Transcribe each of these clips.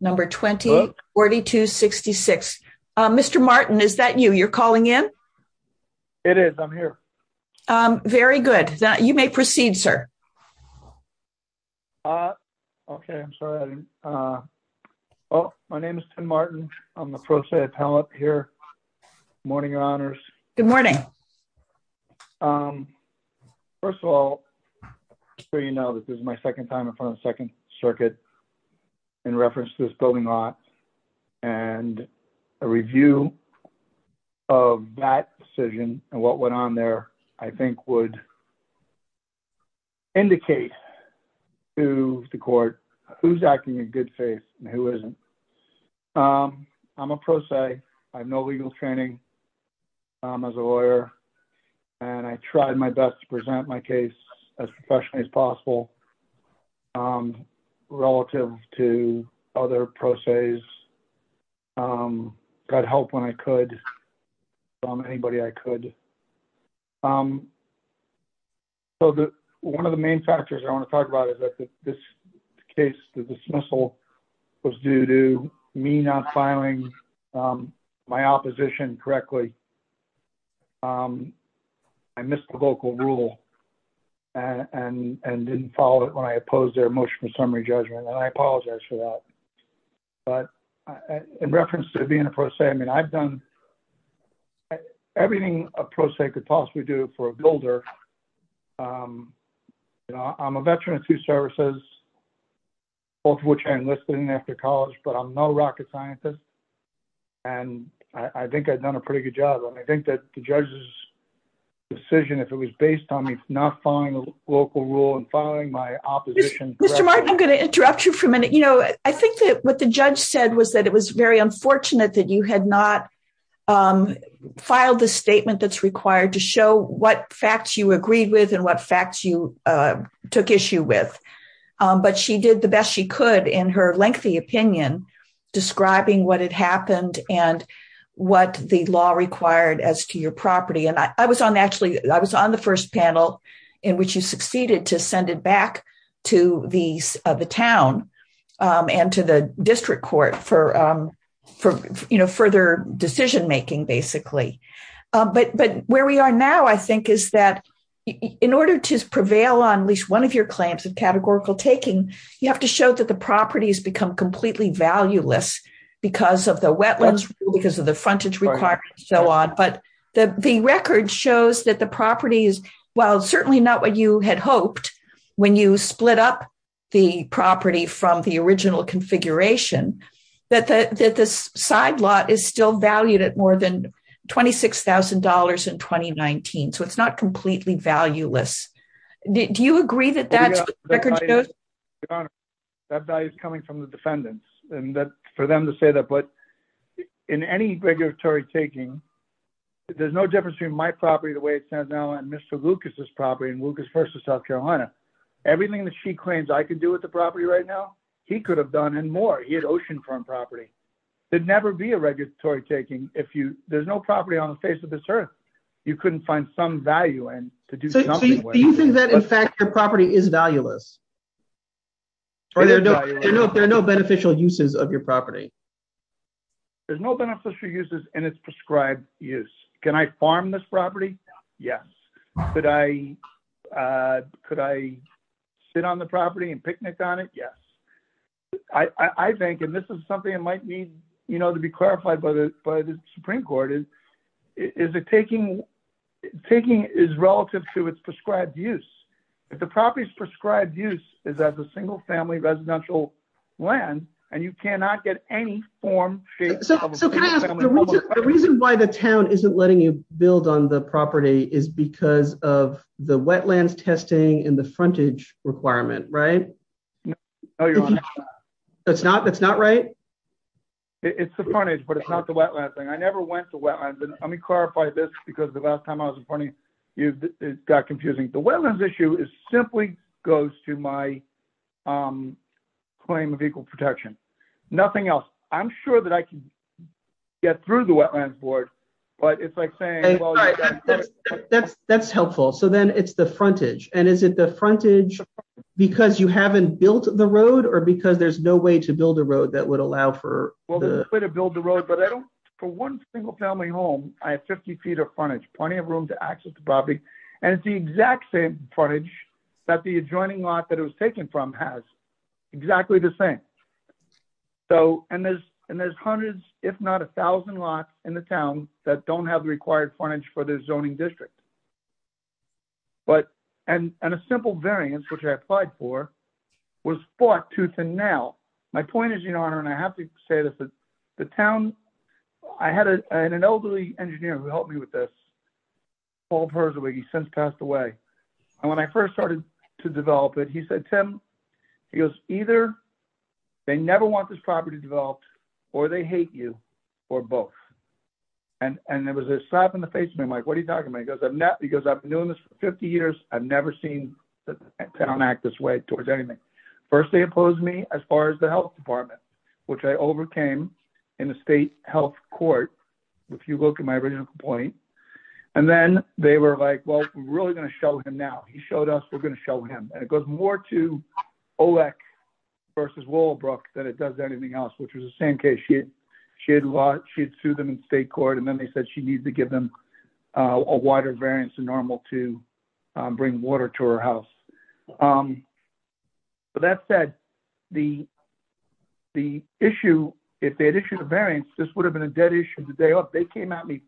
number 20 4266 Mr Martin is that you you're calling in it is I'm here very good that you may proceed, sir. Okay, I'm sorry. Oh, my name is Martin. I'm the process here. Morning honors. Good morning. First of all, so you know that this is my second time in front of second circuit. In reference to this building lot, and a review of that decision, and what went on there, I think would indicate to the court, who's acting in good faith, and who isn't. I'm a process. I have no legal training as a lawyer. And I tried my best to present my case as professionally as possible. Relative to other process. Got help when I could. Anybody I could. One of the main factors I want to talk about is that this case, the dismissal was due to me not filing my opposition correctly. I missed the vocal rule and didn't follow it when I opposed their motion for summary judgment and I apologize for that. In reference to being a process I mean I've done everything a process could possibly do for a builder. I'm a veteran of two services, both of which I enlisted in after college but I'm not a rocket scientist. And I think I've done a pretty good job and I think that the judges decision if it was based on me, not find local rule and following my opposition. I'm going to interrupt you for a minute, you know, I think that what the judge said was that it was very unfortunate that you had not filed the statement that's required to show what facts you agreed with and what facts you took issue with. But she did the best she could in her lengthy opinion, describing what had happened and what the law required as to your property and I was on actually, I was on the first panel in which you succeeded to send it back to the town and to the district court for further decision making basically. But where we are now I think is that in order to prevail on at least one of your claims of categorical taking, you have to show that the properties become completely valueless because of the wetlands, because of the frontage requirements and so on. But the record shows that the properties, while certainly not what you had hoped when you split up the property from the original configuration that the side lot is still valued at more than $26,000 in 2019 so it's not completely valueless. Do you agree that that's that value is coming from the defendants, and that for them to say that but in any regulatory taking. There's no difference between my property the way it says now and Mr Lucas's property and Lucas versus South Carolina, everything that she claims I can do with the property right now, he could have done and more he had oceanfront property. There'd never be a regulatory taking, if you, there's no property on the face of this earth. You couldn't find some value and to do. Do you think that in fact your property is valueless. Or there are no, there are no beneficial uses of your property. There's no beneficial uses and it's prescribed use. Can I farm this property. Yes. Could I, could I sit on the property and picnic on it. Yes. I think and this is something that might need, you know, to be clarified by the, by the Supreme Court is, is it taking taking is relative to its prescribed use the properties prescribed use is that the single family residential land, and you cannot get any form. The reason why the town isn't letting you build on the property is because of the wetlands testing and the frontage requirement right. That's not that's not right. It's the frontage but it's not the wetland thing I never went to wetlands and let me clarify this because the last time I was in front of you got confusing the wetlands issue is simply goes to my claim of equal protection. Nothing else. I'm sure that I can get through the wetlands board, but it's like saying that's, that's helpful so then it's the frontage, and is it the frontage. Because you haven't built the road or because there's no way to build a road that would allow for the way to build the road but I don't for one single family home, I have 50 feet of frontage plenty of room to access the property. And it's the exact same frontage that the adjoining lot that it was taken from has exactly the same. So, and there's, and there's hundreds, if not 1000 lot in the town that don't have the required frontage for the zoning district. But, and, and a simple variance which I applied for was fought tooth and nail. My point is, you know, and I have to say this is the town. I had an elderly engineer who helped me with this. passed away. And when I first started to develop it he said Tim. He goes, either. They never want this property developed, or they hate you, or both. And, and it was a slap in the face man like what are you talking about because I'm not because I've been doing this for 50 years, I've never seen the town act this way towards anything. First they opposed me, as far as the health department, which I overcame in the state health court. If you look at my original point. And then they were like, well, really going to show him now he showed us we're going to show him, and it goes more to elect versus Walbrook that it does anything else which was the same case she had. She sued them in state court and then they said she needs to give them a wider variance than normal to bring water to her house. But that said, the, the issue. If they had issued a variance this would have been a dead issue the day of they came at me.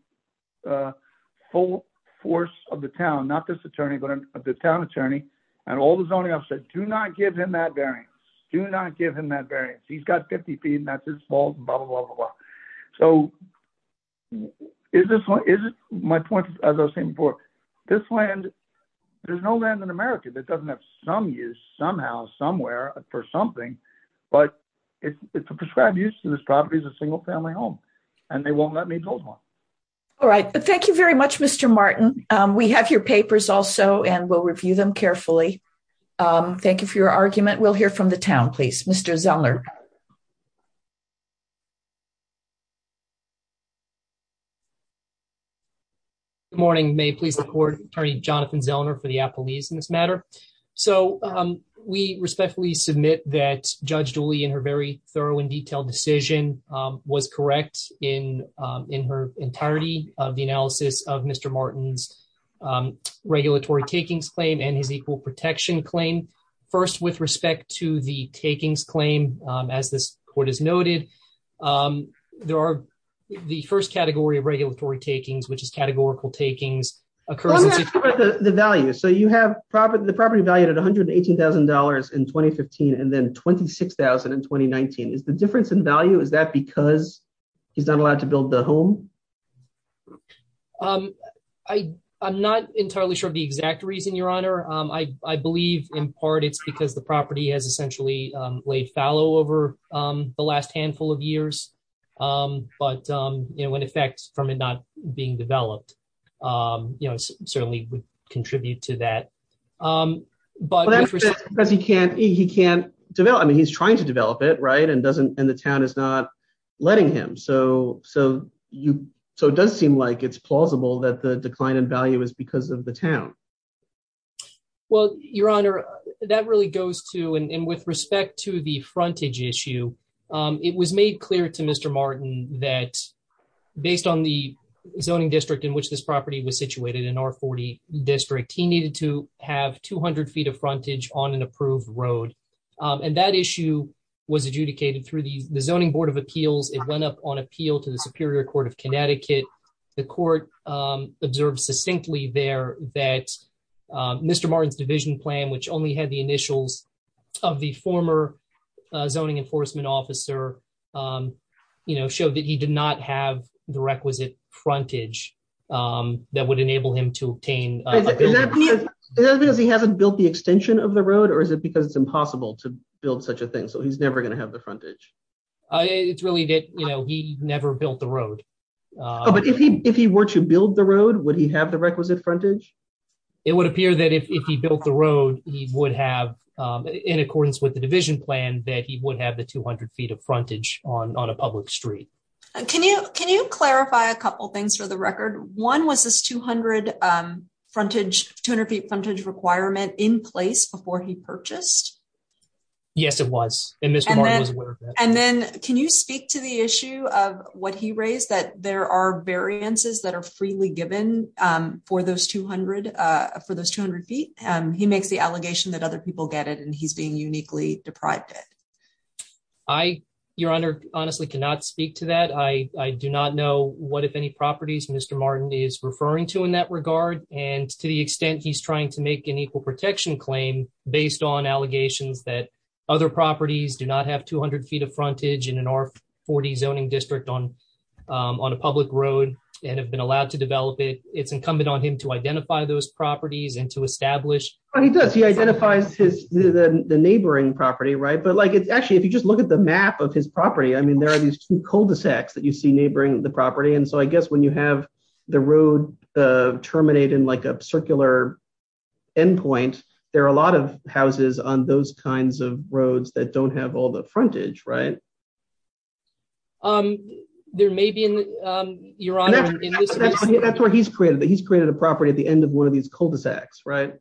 Full force of the town not this attorney but the town attorney, and all the zoning upset do not give him that very do not give him that very he's got 50 feet and that's his fault, blah, blah, blah, blah. So, is this what is my point, as I was saying before, this land. There's no land in America that doesn't have some use somehow somewhere for something, but it's prescribed use to this property as a single family home, and they won't let me build one. All right, but thank you very much, Mr Martin, we have your papers also and we'll review them carefully. Thank you for your argument we'll hear from the town please Mr Zellner morning may please the court party Jonathan Zellner for the police in this matter. So, we respectfully submit that judge Julie in her very thorough and detailed decision was correct in, in her entirety of the analysis of Mr Martin's regulatory takings claim and his equal protection claim. First, with respect to the takings claim, as this court is noted. There are the first category of regulatory takings which is categorical takings occur the value so you have property the property value at $118,000 in 2015 and then 26,020 19 is the difference in value is that because he's not allowed to build the home. I, I'm not entirely sure the exact reason Your Honor, I believe, in part it's because the property has essentially laid fallow over the last handful of years. But, you know, in effect, from it not being developed. You know, certainly would contribute to that. But he can't, he can't develop I mean he's trying to develop it right and doesn't, and the town is not letting him so so you. So it does seem like it's plausible that the decline in value is because of the town. Well, Your Honor, that really goes to and with respect to the frontage issue. It was made clear to Mr Martin that based on the zoning district in which this property was situated in our 40 district he needed to have 200 feet of frontage on an approved road. And that issue was adjudicated through the zoning Board of Appeals, it went up on appeal to the Superior Court of Connecticut, the court observed succinctly there that Mr Martin's division plan which only had the initials of the former zoning enforcement officer, you know, showed that he did not have the requisite frontage. That would enable him to obtain. He hasn't built the extension of the road or is it because it's impossible to build such a thing so he's never going to have the frontage. It's really good, you know, he never built the road. But if he, if he were to build the road would he have the requisite frontage, it would appear that if he built the road, he would have in accordance with the division plan that he would have the 200 feet of frontage on on a public street. Can you, can you clarify a couple things for the record. One was this 200 frontage 200 feet frontage requirement in place before he purchased. Yes, it was in this. And then, can you speak to the issue of what he raised that there are variances that are freely given for those 200 for those 200 feet, and he makes the allegation that other people get it and he's being uniquely deprived it. I, Your Honor, honestly cannot speak to that I do not know what if any properties Mr Martin is referring to in that regard, and to the extent he's trying to make an equal protection claim, based on allegations that other properties do not have 200 feet of frontage in an R40 zoning district on on a public road, and have been allowed to develop it, it's incumbent on him to identify those properties and to establish. He does he identifies his the neighboring property right but like it's actually if you just look at the map of his property I mean there are these cul de sacs that you see neighboring the property and so I guess when you have the road terminated like a circular endpoint. There are a lot of houses on those kinds of roads that don't have all the frontage right. Um, there may be in your honor. That's where he's created that he's created a property at the end of one of these cul de sacs right.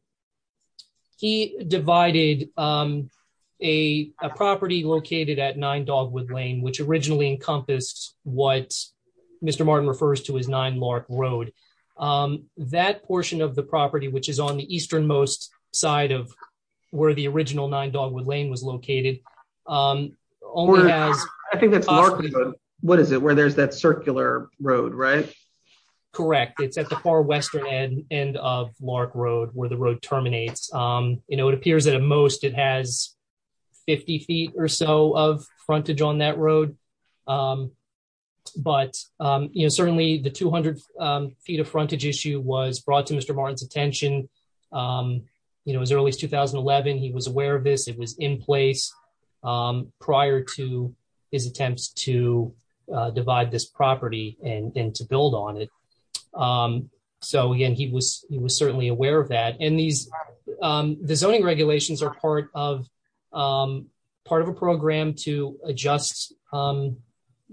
He divided a property located at nine dogwood lane which originally encompassed what Mr Martin refers to his nine mark road that portion of the property which is on the eastern most side of where the original nine dogwood lane was located. I think that's what is it where there's that circular road right. Correct. It's at the far western end of Lark Road where the road terminates, you know, it appears that at most it has 50 feet or so of frontage on that road. But, you know, certainly the 200 feet of frontage issue was brought to Mr Martin's attention. You know as early as 2011 he was aware of this it was in place. Prior to his attempts to divide this property, and then to build on it. So again, he was, he was certainly aware of that and these zoning regulations are part of part of a program to adjust.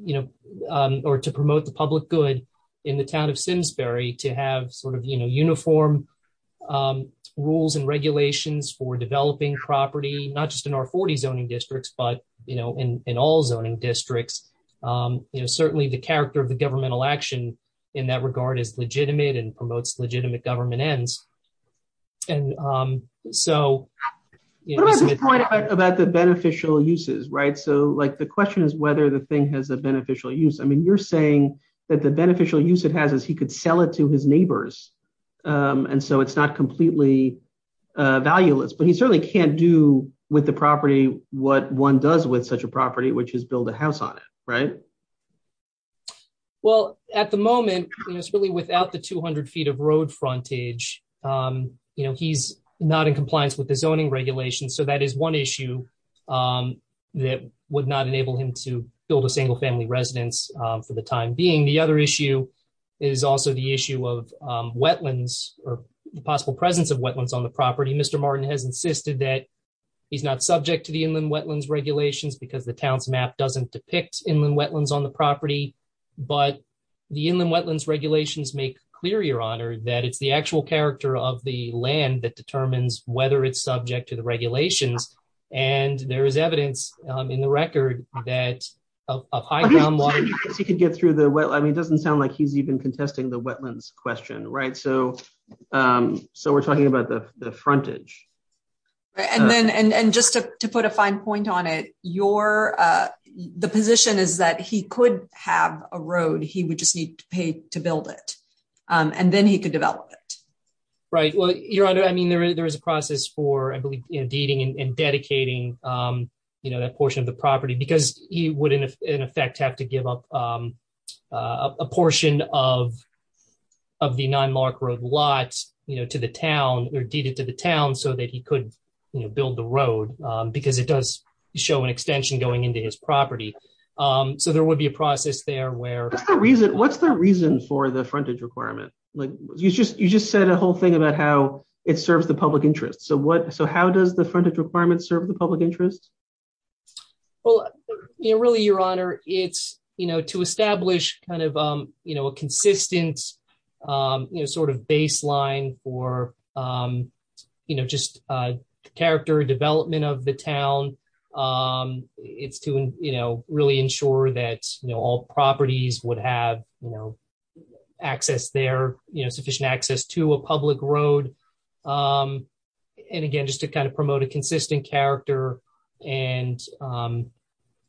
You know, or to promote the public good in the town of Simsbury to have sort of, you know, uniform rules and regulations for developing property, not just in our 40 zoning districts but you know in all zoning districts. You know, certainly the character of the governmental action in that regard is legitimate and promotes legitimate government ends. And so, about the beneficial uses right so like the question is whether the thing has a beneficial use I mean you're saying that the beneficial use it has is he could sell it to his neighbors. And so it's not completely valueless but he certainly can't do with the property, what one does with such a property which is build a house on it. Right. Well, at the moment, it's really without the 200 feet of road frontage. You know he's not in compliance with the zoning regulations so that is one issue that would not enable him to build a single family residence. The other issue is also the issue of wetlands, or possible presence of wetlands on the property Mr Martin has insisted that he's not subject to the inland wetlands regulations because the town's map doesn't depict inland wetlands on the property, but the inland get through the well I mean it doesn't sound like he's even contesting the wetlands question right so. So we're talking about the frontage. And then, and just to put a fine point on it, you're the position is that he could have a road, he would just need to pay to build it, and then he could develop it. Right. Well, your honor I mean there is there is a process for I believe in dating and dedicating, you know, that portion of the property because he wouldn't, in effect, have to give up a portion of, of the nine mark road lots, you know, to the town or to the town so that he could build the road, because it does show an extension going into his property. So there would be a process there where the reason what's the reason for the frontage requirement, like you just you just said a whole thing about how it serves the public interest so what so how does the frontage requirements serve the public interest. Well, really your honor, it's, you know, to establish kind of, you know, a consistent, you know, sort of baseline for, you know, just character development of the town. It's to, you know, really ensure that you know all properties would have, you know, access there, you know sufficient access to a public road. And again, just to kind of promote a consistent character and,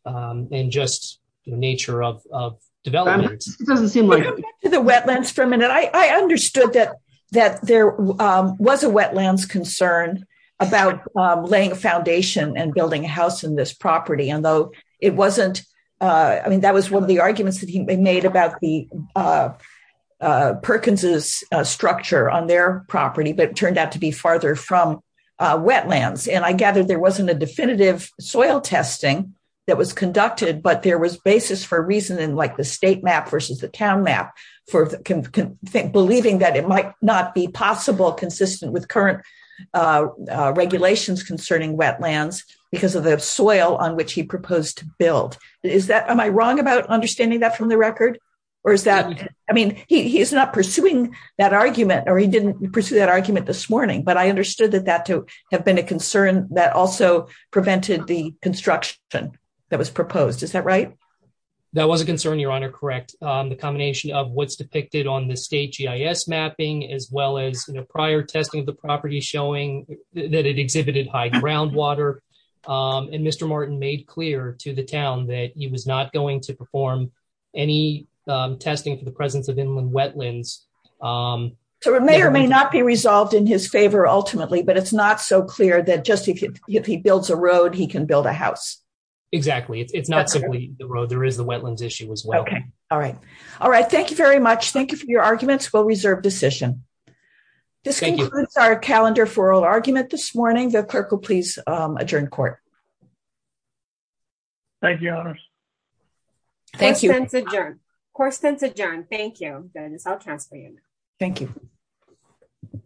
and just the nature of development doesn't seem like the wetlands for a minute I understood that, that there was a wetlands concern about laying a foundation and building a house in this property but turned out to be farther from wetlands and I gathered there wasn't a definitive soil testing that was conducted but there was basis for reason and like the state map versus the town map for can think believing that it might not be possible consistent with current regulations concerning wetlands, because of the soil on which he proposed to build. Is that am I wrong about understanding that from the record, or is that, I mean, he's not pursuing that argument or he didn't pursue that argument this morning but I understood that that to have been a concern that also prevented the construction that was proposed is that right. That was a concern your honor correct the combination of what's depicted on the state GIS mapping as well as in a prior testing the property showing that it exhibited high groundwater and Mr. Morton made clear to the town that he was not going to perform any testing for the presence of inland wetlands. So it may or may not be resolved in his favor ultimately but it's not so clear that just if he builds a road he can build a house. Exactly. It's not simply the road there is the wetlands issue as well. All right. All right. Thank you very much. Thank you for your arguments will reserve decision. This concludes our calendar for argument this morning the clerk will please adjourn court. Thank you. Thank you. Court is adjourned. Court is adjourned. Thank you. Thank you. Thank you. Thank you.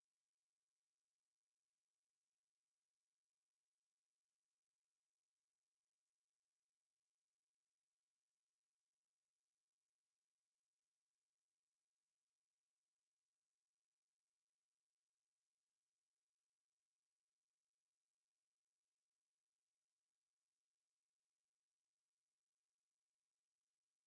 Thank you. Thank you.